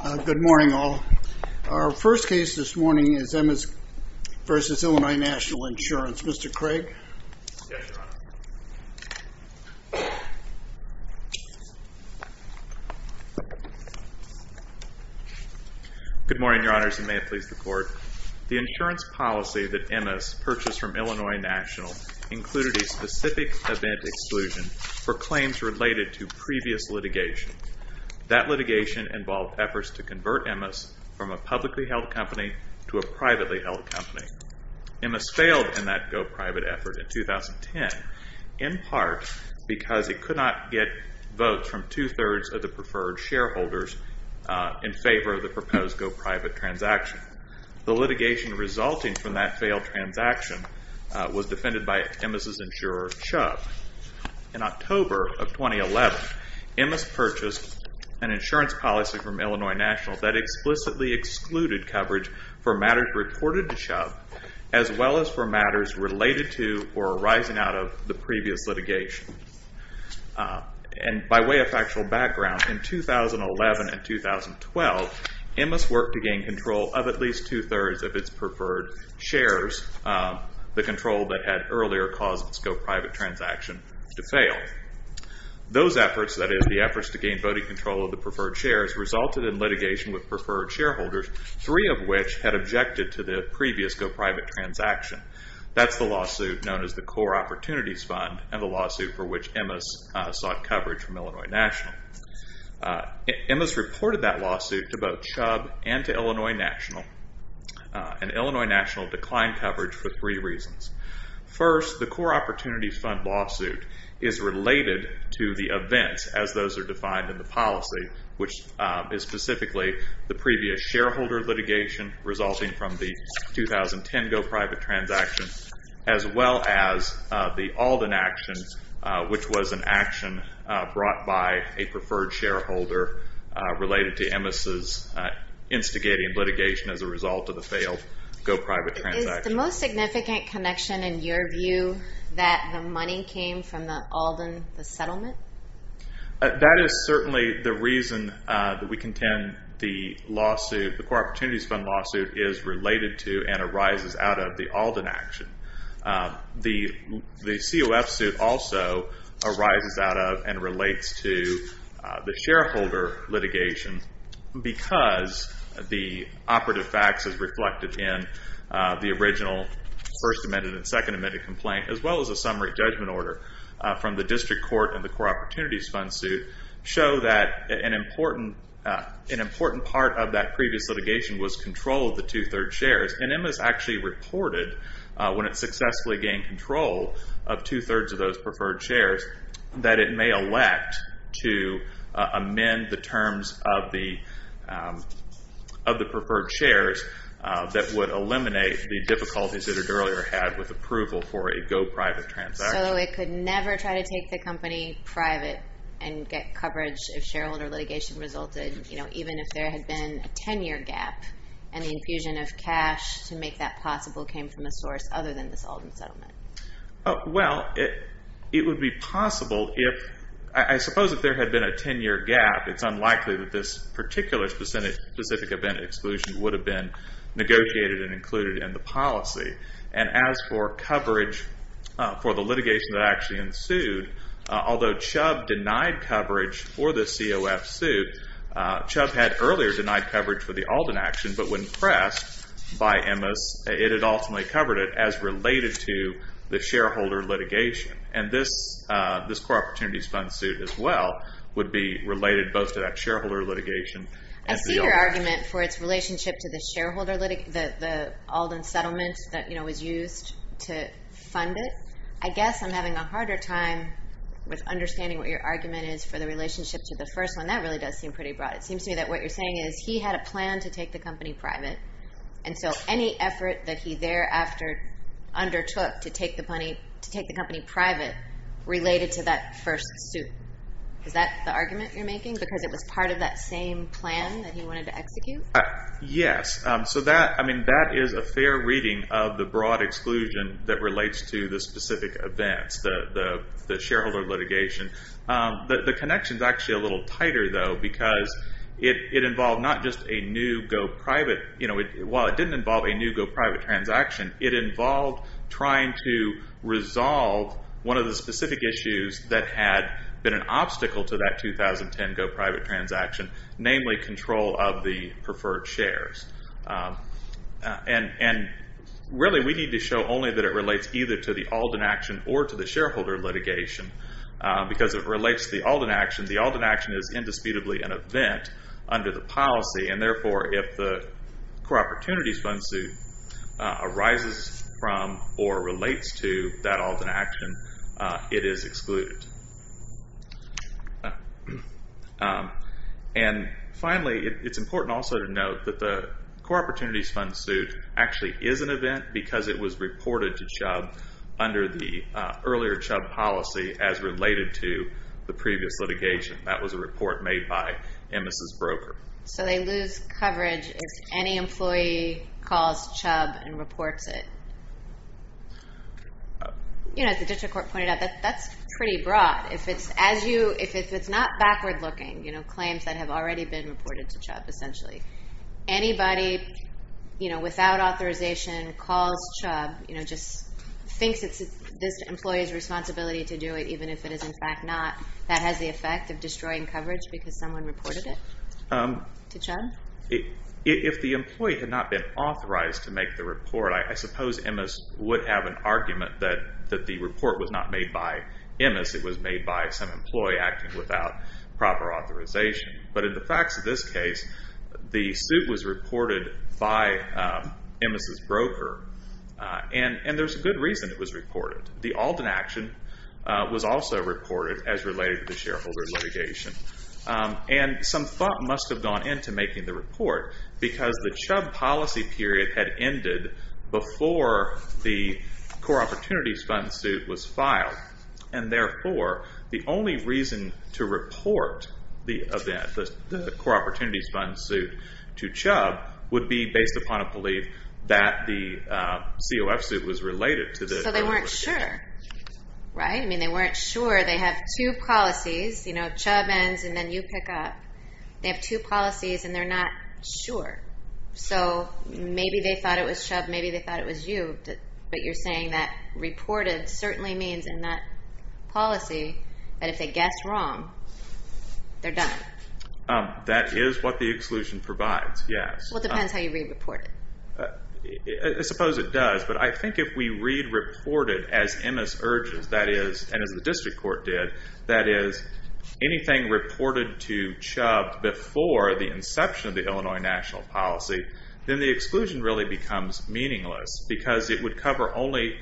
Good morning, all. Our first case this morning is Emmis v. Illinois National Insurance. Mr. Craig? Good morning, Your Honors, and may it please the Court. The insurance policy that Emmis purchased from Illinois National included a specific event exclusion for claims related to previous litigation. That litigation involved efforts to convert Emmis from a publicly held company to a privately held company. Emmis failed in that go-private effort in 2010 in part because it could not get votes from two-thirds of the preferred shareholders in favor of the proposed go-private transaction. The litigation resulting from that failed transaction was defended by Emmis' insurer, Chubb. In October of 2011, Emmis purchased an insurance policy from Illinois National that explicitly excluded coverage for matters reported to Chubb as well as for matters related to or arising out of the previous litigation. By way of factual background, in 2011 and 2012, Emmis worked to gain control of at least two-thirds of its preferred shares, the control that had earlier caused its go-private transaction to fail. Those efforts, that is, the efforts to gain voting control of the preferred shares, resulted in litigation with preferred shareholders, three of which had objected to the previous go-private transaction. That's the lawsuit known as the Core Opportunities Fund and the lawsuit for which Emmis sought coverage from Illinois National. Emmis reported that lawsuit to both Chubb and to Illinois National, and Illinois National declined coverage for three reasons. First, the Core Opportunities Fund lawsuit is related to the events as those are defined in the policy, which is specifically the previous shareholder litigation resulting from the 2010 go-private transaction, as well as the Alden action, which was an action brought by a preferred shareholder related to Emmis' instigating litigation as a result of the failed go-private transaction. Is the most significant connection, in your view, that the money came from the Alden settlement? That is certainly the reason that we contend the lawsuit, the Core Opportunities Fund lawsuit, is related to and arises out of the Alden action. The COF suit also arises out of and relates to the shareholder litigation because the operative facts as reflected in the original First Amendment and Second Amendment complaint, as well as a summary judgment order from the District Court and the Core Opportunities Fund suit, show that an important part of that previous litigation was control of the two third shares. And Emmis actually reported, when it successfully gained control of two thirds of those preferred shares, that it may elect to amend the terms of the preferred shares that would eliminate the difficulties that it earlier had with approval for a go-private transaction. So it could never try to take the company private and get coverage if shareholder litigation resulted, even if there had been a ten year gap and the infusion of cash to make that possible came from a source other than this Alden settlement? Well, it would be possible if, I suppose if there had been a ten year gap, it's unlikely that this particular specific event exclusion would have been negotiated and included in the policy. And as for coverage for the litigation that actually ensued, although Chubb denied coverage for the COF suit, Chubb had earlier denied coverage for the Alden action, but when pressed by Emmis, it had ultimately covered it as related to the shareholder litigation. And this Core Opportunities Fund suit as well would be related both to that shareholder litigation. I see your argument for its relationship to the Alden settlement that was used to fund it. I guess I'm having a harder time with understanding what your argument is for the relationship to the first one. That really does seem pretty broad. It seems to me that what you're saying is he had a plan to take the company private. And so any effort that he thereafter undertook to take the company private related to that first suit. Is that the argument you're making? Because it was part of that same plan that he wanted to execute? Yes. So that, I mean, that is a fair reading of the broad exclusion that relates to the specific events, the shareholder litigation. The connection is actually a little tighter, though, because it involved not just a new go private. While it didn't involve a new go private transaction, it involved trying to resolve one of the specific issues that had been an obstacle to that 2010 go private transaction. Namely, control of the preferred shares. And really, we need to show only that it relates either to the Alden action or to the shareholder litigation. Because it relates to the Alden action. The Alden action is indisputably an event under the policy. And therefore, if the core opportunities fund suit arises from or relates to that Alden action, it is excluded. And finally, it's important also to note that the core opportunities fund suit actually is an event because it was reported to Chubb under the earlier Chubb policy as related to the previous litigation. That was a report made by Emmis' broker. So they lose coverage if any employee calls Chubb and reports it. As the district court pointed out, that's pretty broad. If it's not backward looking, claims that have already been reported to Chubb, essentially. Anybody without authorization calls Chubb, just thinks it's this employee's responsibility to do it, even if it is in fact not. That has the effect of destroying coverage because someone reported it to Chubb? If the employee had not been authorized to make the report, I suppose Emmis would have an argument that the report was not made by Emmis. It was made by some employee acting without proper authorization. But in the facts of this case, the suit was reported by Emmis' broker. And there's a good reason it was reported. The Alden action was also reported as related to the shareholder litigation. And some thought must have gone into making the report. Because the Chubb policy period had ended before the core opportunities fund suit was filed. And therefore, the only reason to report the event, the core opportunities fund suit to Chubb, would be based upon a belief that the COF suit was related. So they weren't sure, right? Chubb ends and then you pick up. They have two policies and they're not sure. So maybe they thought it was Chubb, maybe they thought it was you. But you're saying that reported certainly means in that policy that if they guess wrong, they're done. That is what the exclusion provides, yes. Well, it depends how you read reported. I suppose it does. But I think if we read reported as Emmis urges, that is, and as the district court did, that is, anything reported to Chubb before the inception of the Illinois national policy, then the exclusion really becomes meaningless. Because it would cover only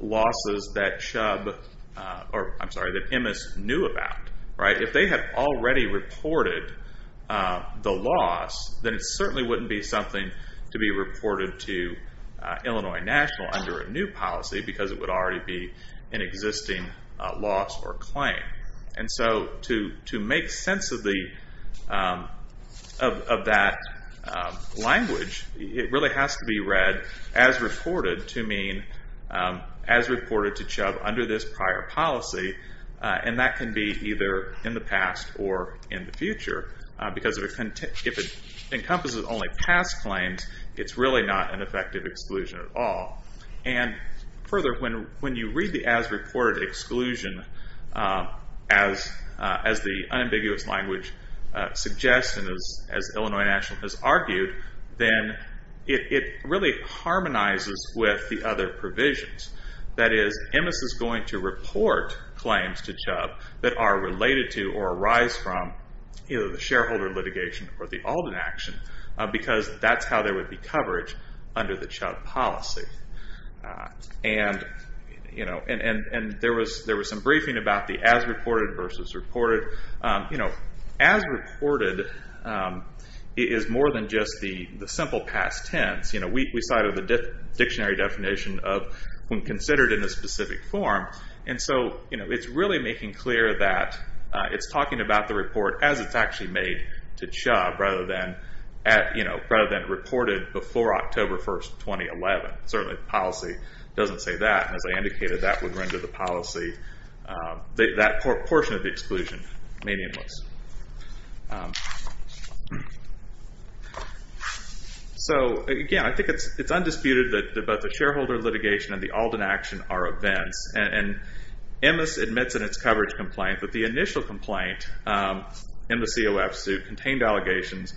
losses that Chubb, or I'm sorry, that Emmis knew about, right? If they had already reported the loss, then it certainly wouldn't be something to be reported to Illinois national under a new policy because it would already be an existing loss or claim. And so to make sense of that language, it really has to be read as reported to mean as reported to Chubb under this prior policy. And that can be either in the past or in the future. Because if it encompasses only past claims, it's really not an effective exclusion at all. And further, when you read the as reported exclusion as the unambiguous language suggests and as Illinois national has argued, then it really harmonizes with the other provisions. That is, Emmis is going to report claims to Chubb that are related to or arise from either the shareholder litigation or the Alden action because that's how there would be coverage under the Chubb policy. And there was some briefing about the as reported versus reported. As reported is more than just the simple past tense. We saw it in the dictionary definition of when considered in a specific form. And so it's really making clear that it's talking about the report as it's actually made to Chubb rather than reported before October 1, 2011. Certainly the policy doesn't say that. As I indicated, that would render the policy, that portion of the exclusion, meaningless. So again, I think it's undisputed that both the shareholder litigation and the Alden action are events. And Emmis admits in its coverage complaint that the initial complaint in the COF suit contained allegations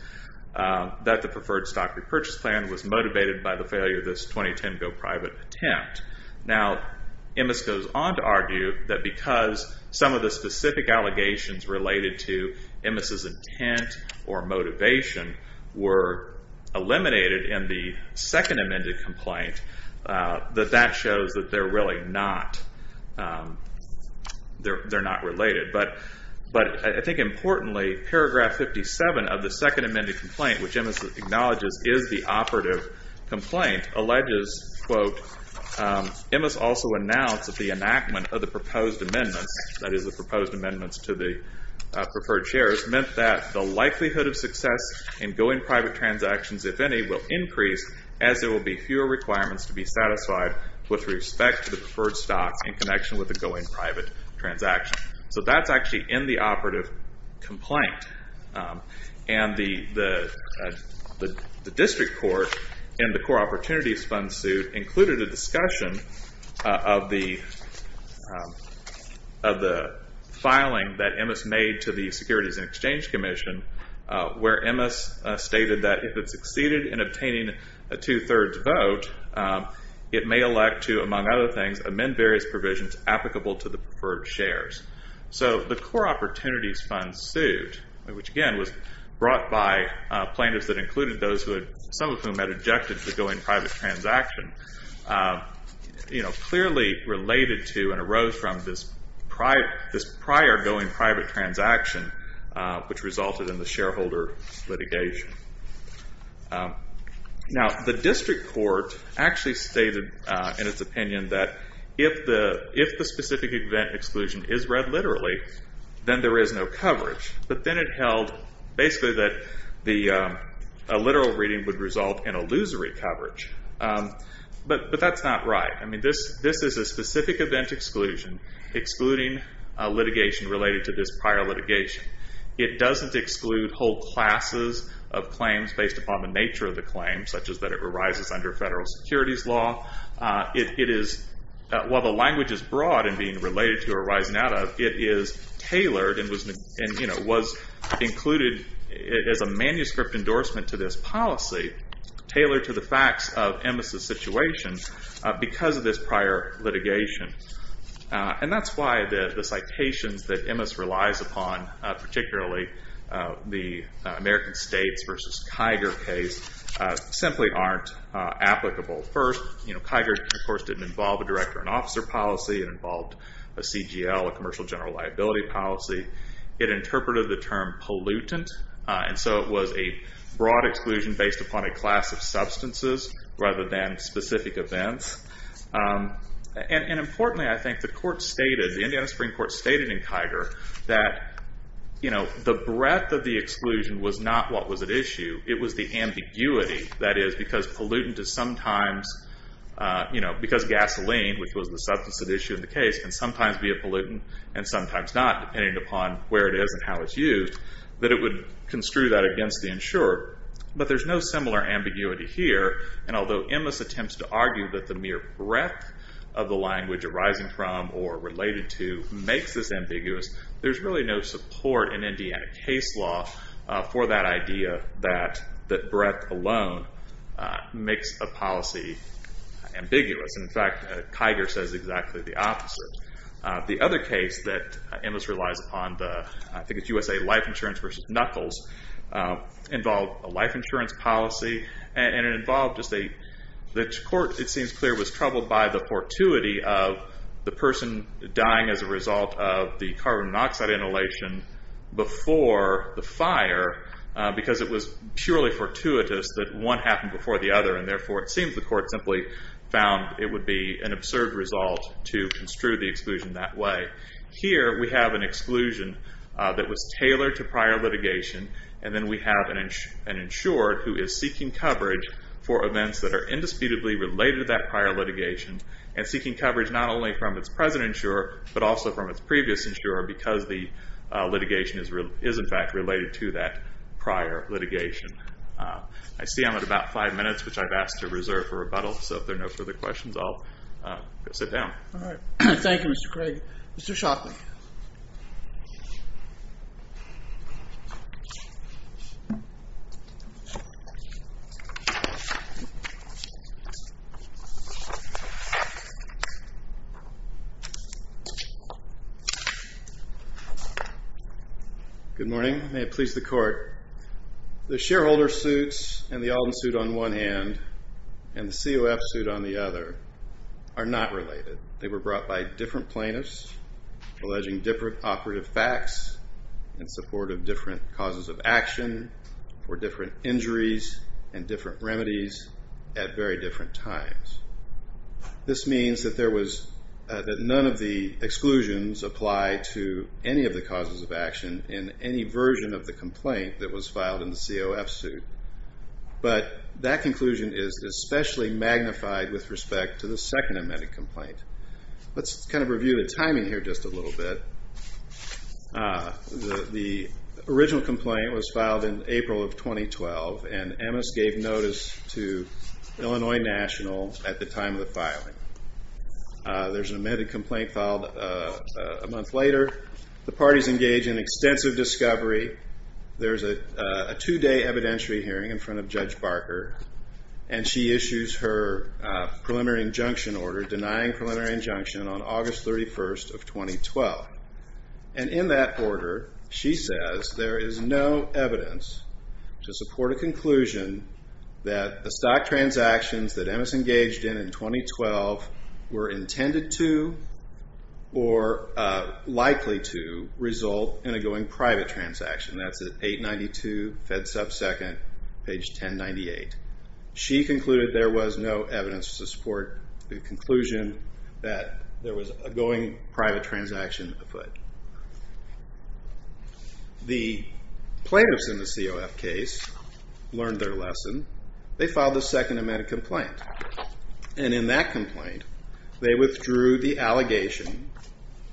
that the preferred stock repurchase plan was motivated by the failure of this 2010 go private attempt. Now, Emmis goes on to argue that because some of the specific allegations related to Emmis' intent or motivation were eliminated in the second amended complaint, that that shows that they're really not, they're not related. But I think importantly, paragraph 57 of the second amended complaint, which Emmis acknowledges is the operative complaint, alleges, quote, Emmis also announced that the enactment of the proposed amendments, that is the proposed amendments to the preferred shares, meant that the likelihood of success in going private transactions, if any, will increase as there will be fewer requirements to be satisfied with respect to the preferred stock in connection with the going private transaction. So that's actually in the operative complaint. And the district court in the Core Opportunities Fund suit included a discussion of the filing that Emmis made to the Securities and Exchange Commission, where Emmis stated that if it succeeded in obtaining a two-thirds vote, it may elect to, among other things, amend various provisions applicable to the preferred shares. So the Core Opportunities Fund suit, which again was brought by plaintiffs that included those who had, some of whom had objected to the going private transaction, clearly related to and arose from this prior going private transaction, which resulted in the shareholder litigation. Now the district court actually stated in its opinion that if the specific event exclusion is read literally, then there is no coverage. But then it held basically that a literal reading would result in illusory coverage. But that's not right. I mean, this is a specific event exclusion excluding litigation related to this prior litigation. It doesn't exclude whole classes of claims based upon the nature of the claim, such as that it arises under federal securities law. It is, while the language is broad and being related to or arising out of, it is tailored and was included as a manuscript endorsement to this policy, tailored to the facts of Emmis' situation because of this prior litigation. And that's why the citations that Emmis relies upon, particularly the American States versus Kiger case, simply aren't applicable. First, you know, Kiger, of course, didn't involve a director and officer policy. It involved a CGL, a commercial general liability policy. It interpreted the term pollutant, and so it was a broad exclusion based upon a class of substances rather than specific events. And importantly, I think the court stated, the Indiana Supreme Court stated in Kiger that, you know, the breadth of the exclusion was not what was at issue. It was the ambiguity, that is, because pollutant is sometimes, you know, because gasoline, which was the substance at issue in the case, can sometimes be a pollutant and sometimes not, depending upon where it is and how it's used, that it would construe that against the insured. But there's no similar ambiguity here, and although Emmis attempts to argue that the mere breadth of the language arising from or related to makes this ambiguous, there's really no support in Indiana case law for that idea that breadth alone makes a policy ambiguous. In fact, Kiger says exactly the opposite. The other case that Emmis relies upon, I think it's USA Life Insurance v. Knuckles, involved a life insurance policy, and it involved just a, the court, it seems clear, was troubled by the fortuity of the person dying as a result of the carbon monoxide inhalation before the fire, because it was purely fortuitous that one happened before the other, and therefore it seems the court simply found it would be an absurd result to construe the exclusion that way. Here we have an exclusion that was tailored to prior litigation, and then we have an insured who is seeking coverage for events that are indisputably related to that prior litigation, and seeking coverage not only from its present insurer, but also from its previous insurer, because the litigation is in fact related to that prior litigation. I see I'm at about five minutes, which I've asked to reserve for rebuttal, so if there are no further questions, I'll go sit down. All right. Thank you, Mr. Craig. Mr. Shockley. Good morning. May it please the court. The shareholder suits and the Alden suit on one hand and the COF suit on the other are not related. They were brought by different plaintiffs alleging different operative facts in support of different causes of action or different injuries and different remedies at very different times. This means that none of the exclusions apply to any of the causes of action in any version of the complaint that was filed in the COF suit, but that conclusion is especially magnified with respect to the second amended complaint. Let's kind of review the timing here just a little bit. The original complaint was filed in April of 2012, and Emmis gave notice to Illinois National at the time of the filing. There's an amended complaint filed a month later. The parties engage in extensive discovery. There's a two-day evidentiary hearing in front of Judge Barker, and she issues her preliminary injunction order denying preliminary injunction on August 31st of 2012. And in that order, she says there is no evidence to support a conclusion that the stock transactions that Emmis engaged in in 2012 were intended to or likely to result in a going private transaction. That's at 892 FedSub 2nd, page 1098. She concluded there was no evidence to support the conclusion that there was a going private transaction afoot. The plaintiffs in the COF case learned their lesson. They filed a second amended complaint, and in that complaint, they withdrew the allegation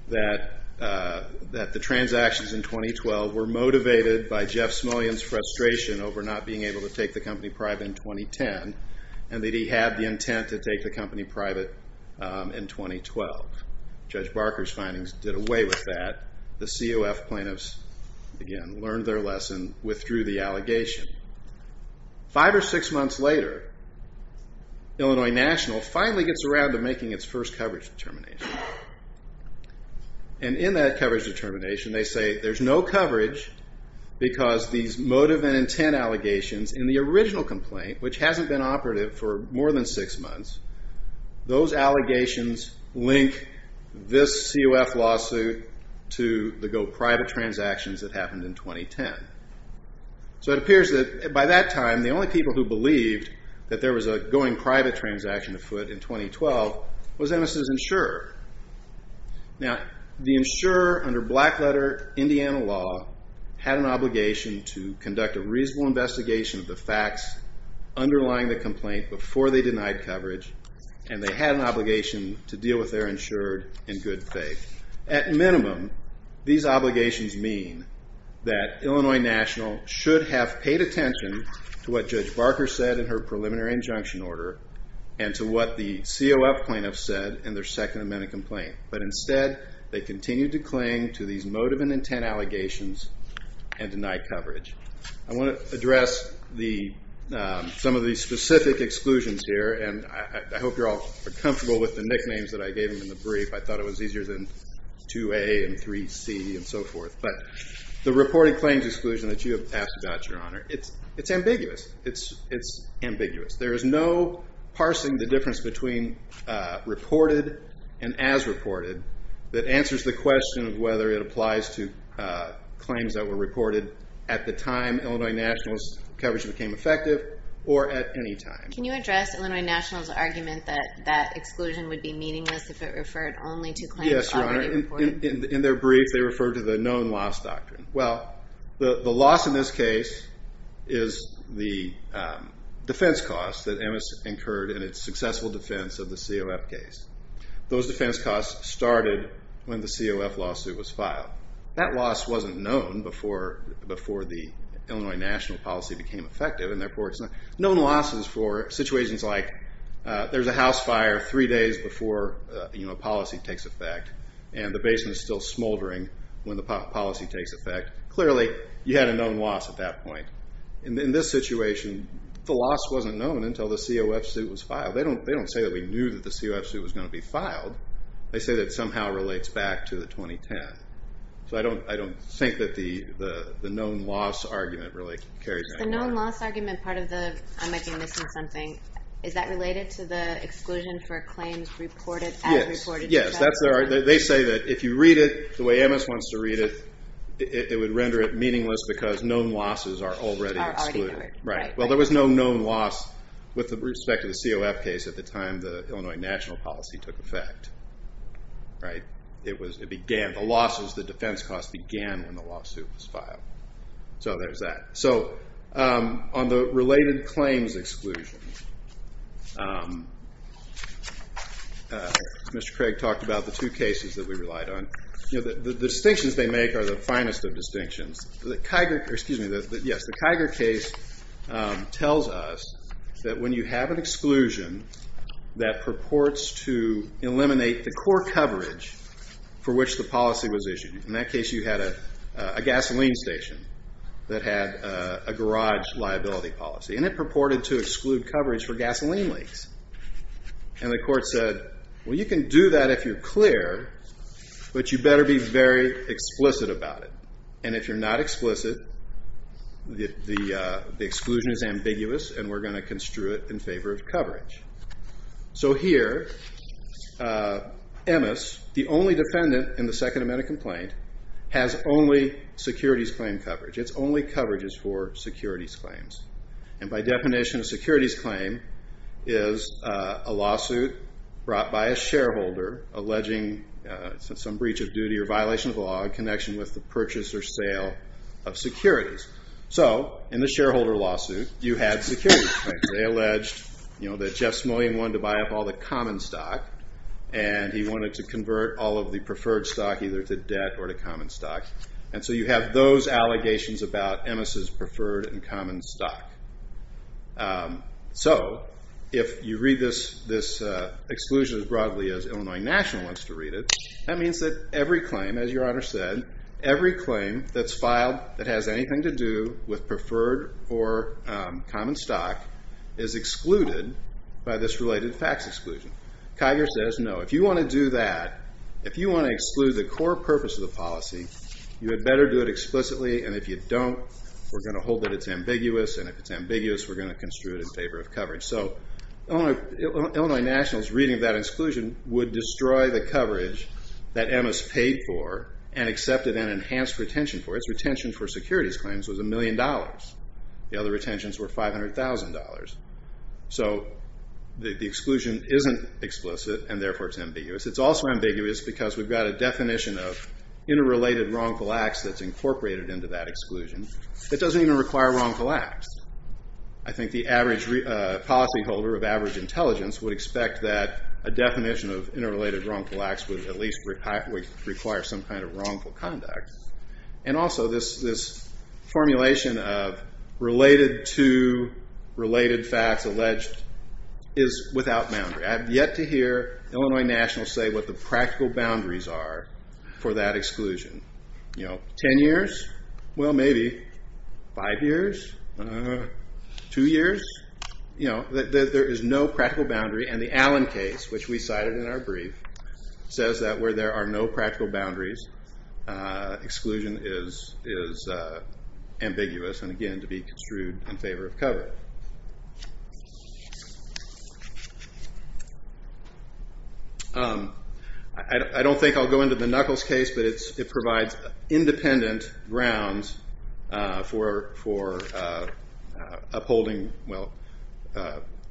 that the transactions in 2012 were motivated by Jeff Smillian's frustration over not being able to take the company private in 2010, and that he had the intent to take the company private in 2012. Judge Barker's findings did away with that. The COF plaintiffs, again, learned their lesson, withdrew the allegation. Five or six months later, Illinois National finally gets around to making its first coverage determination. And in that coverage determination, they say there's no coverage because these motive and intent allegations in the original complaint, which hasn't been operative for more than six months, those allegations link this COF lawsuit to the go private transactions that happened in 2010. So it appears that by that time, the only people who believed that there was a going private transaction afoot in 2012 was Ennis's insurer. Now, the insurer, under black letter Indiana law, had an obligation to conduct a reasonable investigation of the facts underlying the complaint before they denied coverage, and they had an obligation to deal with their insurer in good faith. At minimum, these obligations mean that Illinois National should have paid attention to what Judge Barker said in her preliminary injunction order and to what the COF plaintiffs said in their Second Amendment complaint. But instead, they continued to cling to these motive and intent allegations and deny coverage. I want to address some of the specific exclusions here, and I hope you're all comfortable with the nicknames that I gave them in the brief. I thought it was easier than 2A and 3C and so forth. But the reported claims exclusion that you have asked about, Your Honor, it's ambiguous. It's ambiguous. There is no parsing the difference between reported and as reported that answers the question of whether it applies to claims that were reported at the time Illinois National's coverage became effective or at any time. Can you address Illinois National's argument that that exclusion would be meaningless if it referred only to claims already reported? Yes, Your Honor. In their brief, they referred to the known loss doctrine. Well, the loss in this case is the defense costs that MS incurred in its successful defense of the COF case. Those defense costs started when the COF lawsuit was filed. That loss wasn't known before the Illinois National policy became effective, and therefore it's not known. Losses for situations like there's a house fire three days before a policy takes effect and the basement is still smoldering when the policy takes effect, clearly you had a known loss at that point. In this situation, the loss wasn't known until the COF suit was filed. They don't say that we knew that the COF suit was going to be filed. They say that it somehow relates back to the 2010. So I don't think that the known loss argument really carries any weight. The known loss argument, part of the I might be missing something, is that related to the exclusion for claims reported as reported? Yes. They say that if you read it the way MS wants to read it, it would render it meaningless because known losses are already excluded. Well, there was no known loss with respect to the COF case at the time the Illinois National policy took effect. The losses, the defense costs began when the lawsuit was filed. So there's that. So on the related claims exclusion, Mr. Craig talked about the two cases that we relied on. The distinctions they make are the finest of distinctions. The Kiger case tells us that when you have an exclusion that purports to eliminate the core coverage for which the policy was issued, in that case you had a gasoline station that had a garage liability policy, and it purported to exclude coverage for gasoline leaks. And the court said, well, you can do that if you're clear, but you better be very explicit about it. And if you're not explicit, the exclusion is ambiguous and we're going to construe it in favor of coverage. So here, Emmes, the only defendant in the Second Amendment complaint, has only securities claim coverage. Its only coverage is for securities claims. And by definition, a securities claim is a lawsuit brought by a shareholder alleging some breach of duty or violation of the law in connection with the purchase or sale of securities. So in the shareholder lawsuit, you had securities claims. They alleged that Jeff Smullyan wanted to buy up all the common stock and he wanted to convert all of the preferred stock either to debt or to common stock. And so you have those allegations about Emmes' preferred and common stock. So if you read this exclusion as broadly as Illinois National wants to read it, that means that every claim, as your Honor said, every claim that's filed that has anything to do with preferred or common stock is excluded by this related facts exclusion. Kiger says no. If you want to do that, if you want to exclude the core purpose of the policy, you had better do it explicitly. And if you don't, we're going to hold that it's ambiguous. And if it's ambiguous, we're going to construe it in favor of coverage. So Illinois National's reading of that exclusion would destroy the coverage that Emmes paid for and accepted and enhanced retention for. Its retention for securities claims was $1 million. The other retentions were $500,000. So the exclusion isn't explicit, and therefore it's ambiguous. It's also ambiguous because we've got a definition of interrelated wrongful acts that's incorporated into that exclusion that doesn't even require wrongful acts. The exclusion of interrelated wrongful acts would at least require some kind of wrongful conduct. And also this formulation of related to related facts alleged is without boundary. I have yet to hear Illinois National say what the practical boundaries are for that exclusion. Ten years? Well, maybe. Five years? Two years? There is no practical boundary, and the Allen case, which we cited in our brief, says that where there are no practical boundaries, exclusion is ambiguous and, again, to be construed in favor of coverage. I don't think I'll go into the Knuckles case, but it provides independent grounds for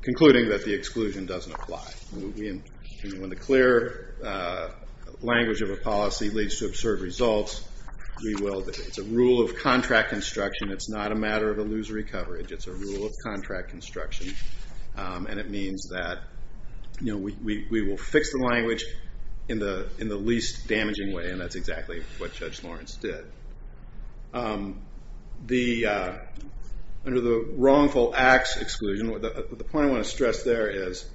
concluding that the exclusion doesn't apply. When the clear language of a policy leads to absurd results, it's a rule of contract construction. It's not a matter of illusory coverage. It's a rule of contract construction, and it means that we will fix the language in the least damaging way, and that's exactly what Judge Lawrence did. Under the wrongful acts exclusion, the point I want to stress there is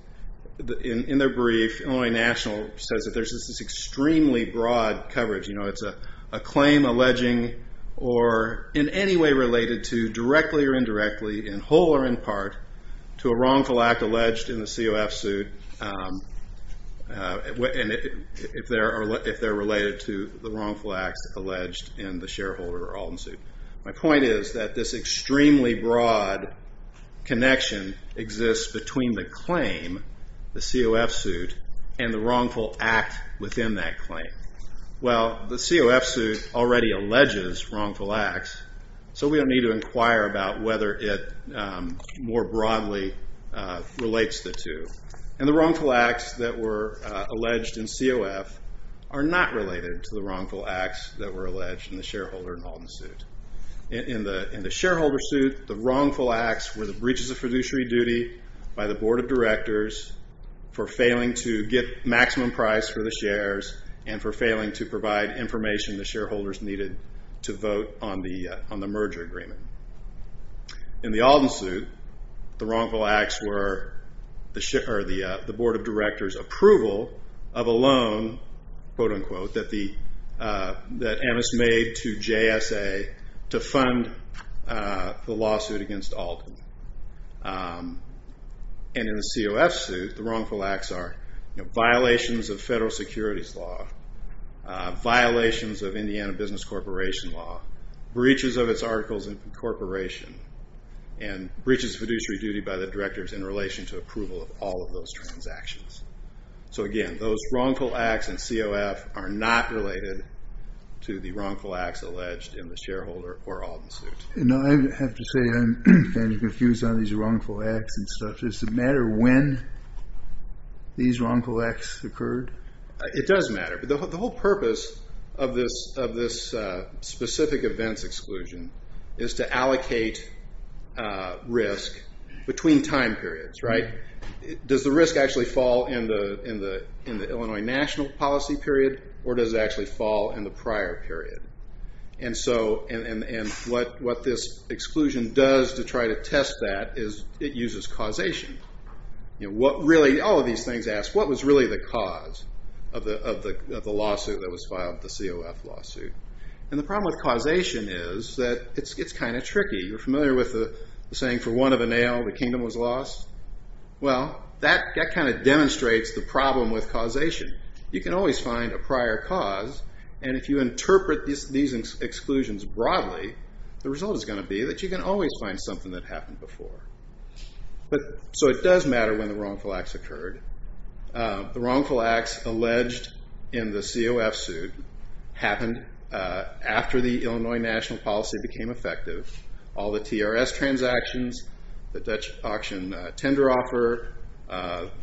in their brief, Illinois National says that there's this extremely broad coverage. It's a claim alleging or in any way related to, directly or indirectly, in whole or in part, to a wrongful act alleged in the COF suit. If they're related to the wrongful acts alleged in the shareholder Alden suit. My point is that this extremely broad connection exists between the claim, the COF suit, and the wrongful act within that claim. Well, the COF suit already alleges wrongful acts, so we don't need to inquire about whether it more broadly relates the two. And the wrongful acts that were alleged in COF are not related to the wrongful acts that were alleged in the shareholder Alden suit. In the shareholder suit, the wrongful acts were the breaches of fiduciary duty by the board of directors for failing to get maximum price for the shares and for failing to provide information the shareholders needed to vote on the merger agreement. In the Alden suit, the wrongful acts were the board of directors' approval of a loan, quote unquote, that Amos made to JSA to fund the lawsuit against Alden. And in the COF suit, the wrongful acts are violations of federal securities law, violations of Indiana business corporation law, breaches of its articles in incorporation, and breaches of fiduciary duty by the directors in relation to approval of all of those transactions. So again, those wrongful acts in COF are not related to the wrongful acts alleged in the shareholder or Alden suit. I have to say I'm kind of confused on these wrongful acts and stuff. Does it matter when these wrongful acts occurred? It does matter. The whole purpose of this specific events exclusion is to allocate risk between time periods, right? Does the risk actually fall in the Illinois national policy period or does it actually fall in the prior period? And what this exclusion does to try to test that is it uses causation. All of these things ask, what was really the cause of the lawsuit that was filed, the COF lawsuit? And the problem with causation is that it's kind of tricky. You're familiar with the saying, for one of a nail the kingdom was lost? Well, that kind of demonstrates the problem with causation. You can always find a prior cause, and if you interpret these exclusions broadly, the result is going to be that you can always find something that happened before. So it does matter when the wrongful acts occurred. The wrongful acts alleged in the COF suit happened after the Illinois national policy became effective. All the TRS transactions, the Dutch auction tender offer,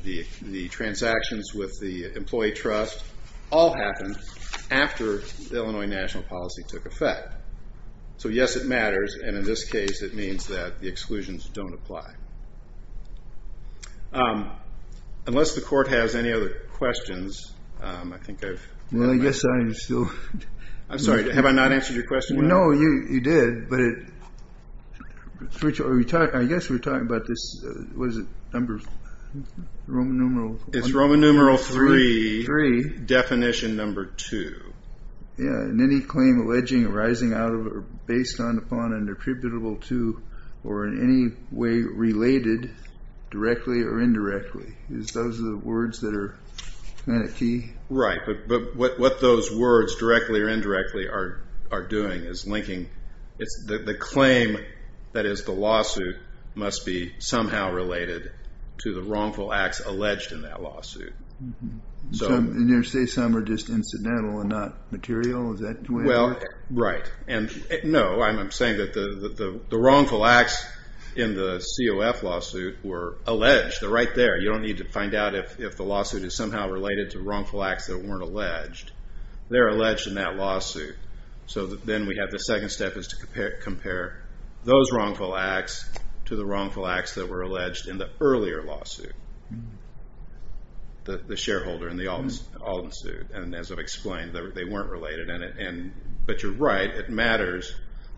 the transactions with the employee trust, all happened after the Illinois national policy took effect. So yes, it matters, and in this case it means that the exclusions don't apply. Unless the court has any other questions, I think I've... Well, I guess I'm still... I'm sorry, have I not answered your question yet? No, you did, but I guess we're talking about this, what is it, Roman numeral... It's Roman numeral 3, definition number 2. Yeah, in any claim alleging arising out of or based on, or in any way related directly or indirectly. Those are the words that are kind of key? Right, but what those words, directly or indirectly, are doing is linking. The claim that is the lawsuit must be somehow related to the wrongful acts alleged in that lawsuit. And you're saying some are just incidental and not material? Well, right. No, I'm saying that the wrongful acts in the COF lawsuit were alleged. They're right there. You don't need to find out if the lawsuit is somehow related to wrongful acts that weren't alleged. They're alleged in that lawsuit. So then we have the second step is to compare those wrongful acts to the wrongful acts that were alleged in the earlier lawsuit, the shareholder in the Alden suit. And as I've explained, they weren't related. But you're right, it matters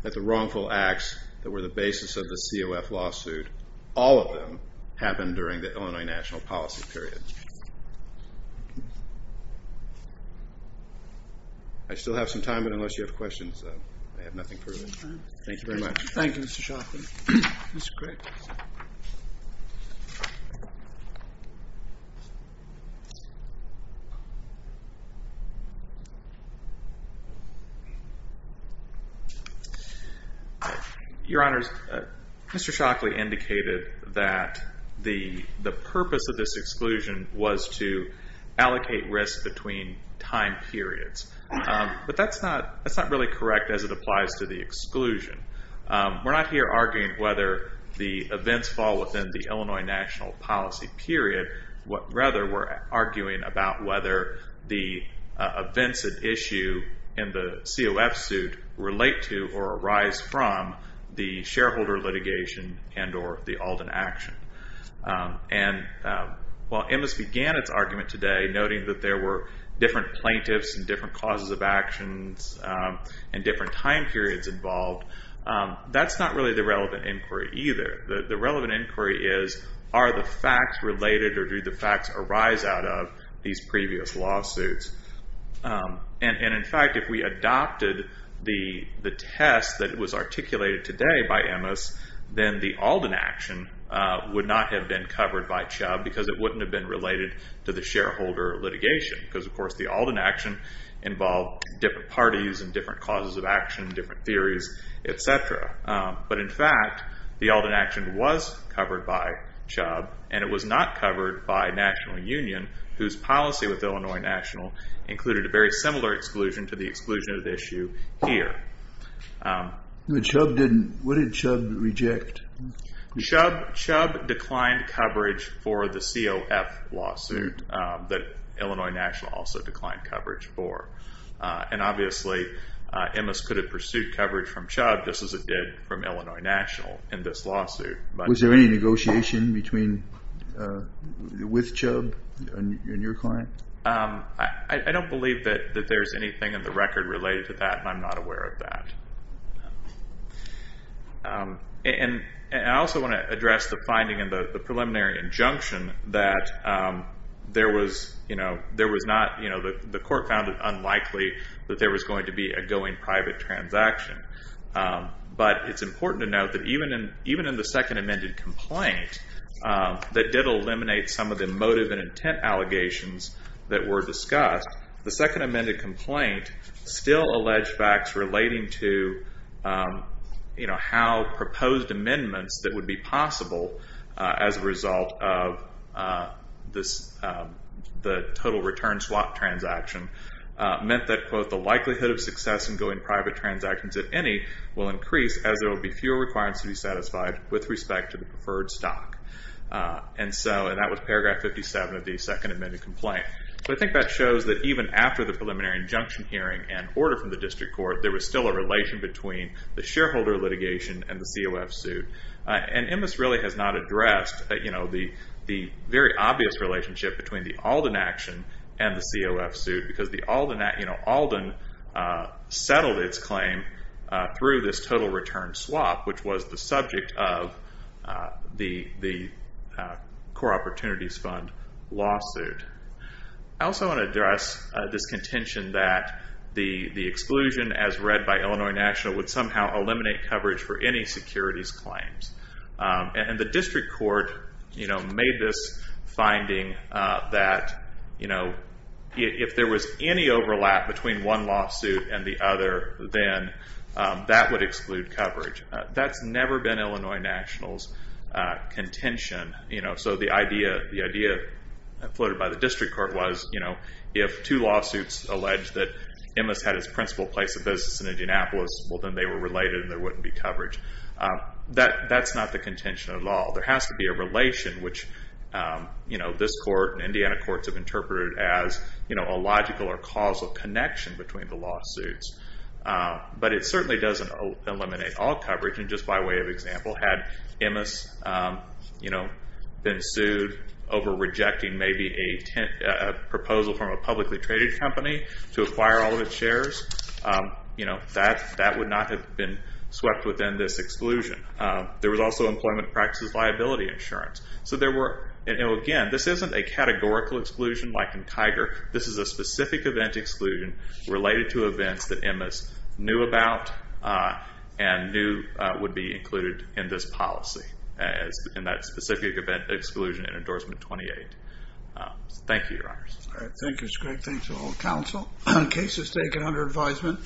that the wrongful acts that were the basis of the COF lawsuit, all of them happened during the Illinois national policy period. I still have some time, but unless you have questions, I have nothing further. Thank you very much. Thank you, Mr. Shoffman. Mr. Crick. Your Honors, Mr. Shockley indicated that the purpose of this exclusion was to allocate risk between time periods. But that's not really correct as it applies to the exclusion. We're not here arguing whether the events fall within the Illinois national policy period. Rather, we're arguing about whether the exclusion and the events at issue in the COF suit relate to or arise from the shareholder litigation and or the Alden action. And while MS began its argument today noting that there were different plaintiffs and different causes of actions and different time periods involved, that's not really the relevant inquiry either. The relevant inquiry is are the facts related or do the facts arise out of these previous lawsuits? And, in fact, if we adopted the test that was articulated today by MS, then the Alden action would not have been covered by CHUBB because it wouldn't have been related to the shareholder litigation because, of course, the Alden action involved different parties and different causes of action, different theories, et cetera. But, in fact, the Alden action was covered by CHUBB and it was not covered by National Union, whose policy with Illinois National included a very similar exclusion to the exclusion at issue here. What did CHUBB reject? CHUBB declined coverage for the COF lawsuit that Illinois National also declined coverage for. And, obviously, MS could have pursued coverage from CHUBB just as it did from Illinois National in this lawsuit. Was there any negotiation with CHUBB and your client? I don't believe that there's anything in the record related to that and I'm not aware of that. And I also want to address the finding in the preliminary injunction that the court found it unlikely that there was going to be a going private transaction. But it's important to note that even in the second amended complaint that did eliminate some of the motive and intent allegations that were discussed, the second amended complaint still alleged facts relating to how proposed amendments that would be possible as a result of the total return swap transaction meant that, quote, the likelihood of success in going private transactions at any will increase as there will be fewer requirements to be satisfied with respect to the preferred stock. And that was paragraph 57 of the second amended complaint. So I think that shows that even after the preliminary injunction hearing and order from the district court, there was still a relation between the shareholder litigation and the COF suit. And MS really has not addressed the very obvious relationship between the Alden action and the COF suit because the Alden settled its claim through this total return swap, which was the subject of the Core Opportunities Fund lawsuit. I also want to address this contention that the exclusion, as read by Illinois National, would somehow eliminate coverage for any securities claims. And the district court made this finding that if there was any overlap between one lawsuit and the other, then that would exclude coverage. That's never been Illinois National's contention. So the idea floated by the district court was if two lawsuits allege that MS had its principal place of business in Indianapolis, well, then they were related and there wouldn't be coverage. That's not the contention at all. There has to be a relation, which this court and Indiana courts have interpreted as a logical or causal connection between the lawsuits. But it certainly doesn't eliminate all coverage. And just by way of example, had MS been sued over rejecting maybe a proposal from a publicly traded company to acquire all of its shares, that would not have been swept within this exclusion. There was also employment practices liability insurance. So there were, again, this isn't a categorical exclusion like in Tiger. This is a specific event exclusion related to events that MS knew about and knew would be included in this policy, in that specific event exclusion in Endorsement 28. Thank you, Your Honors. Thank you, Mr. Craig. Thanks to all the counsel. Case is taken under advisement.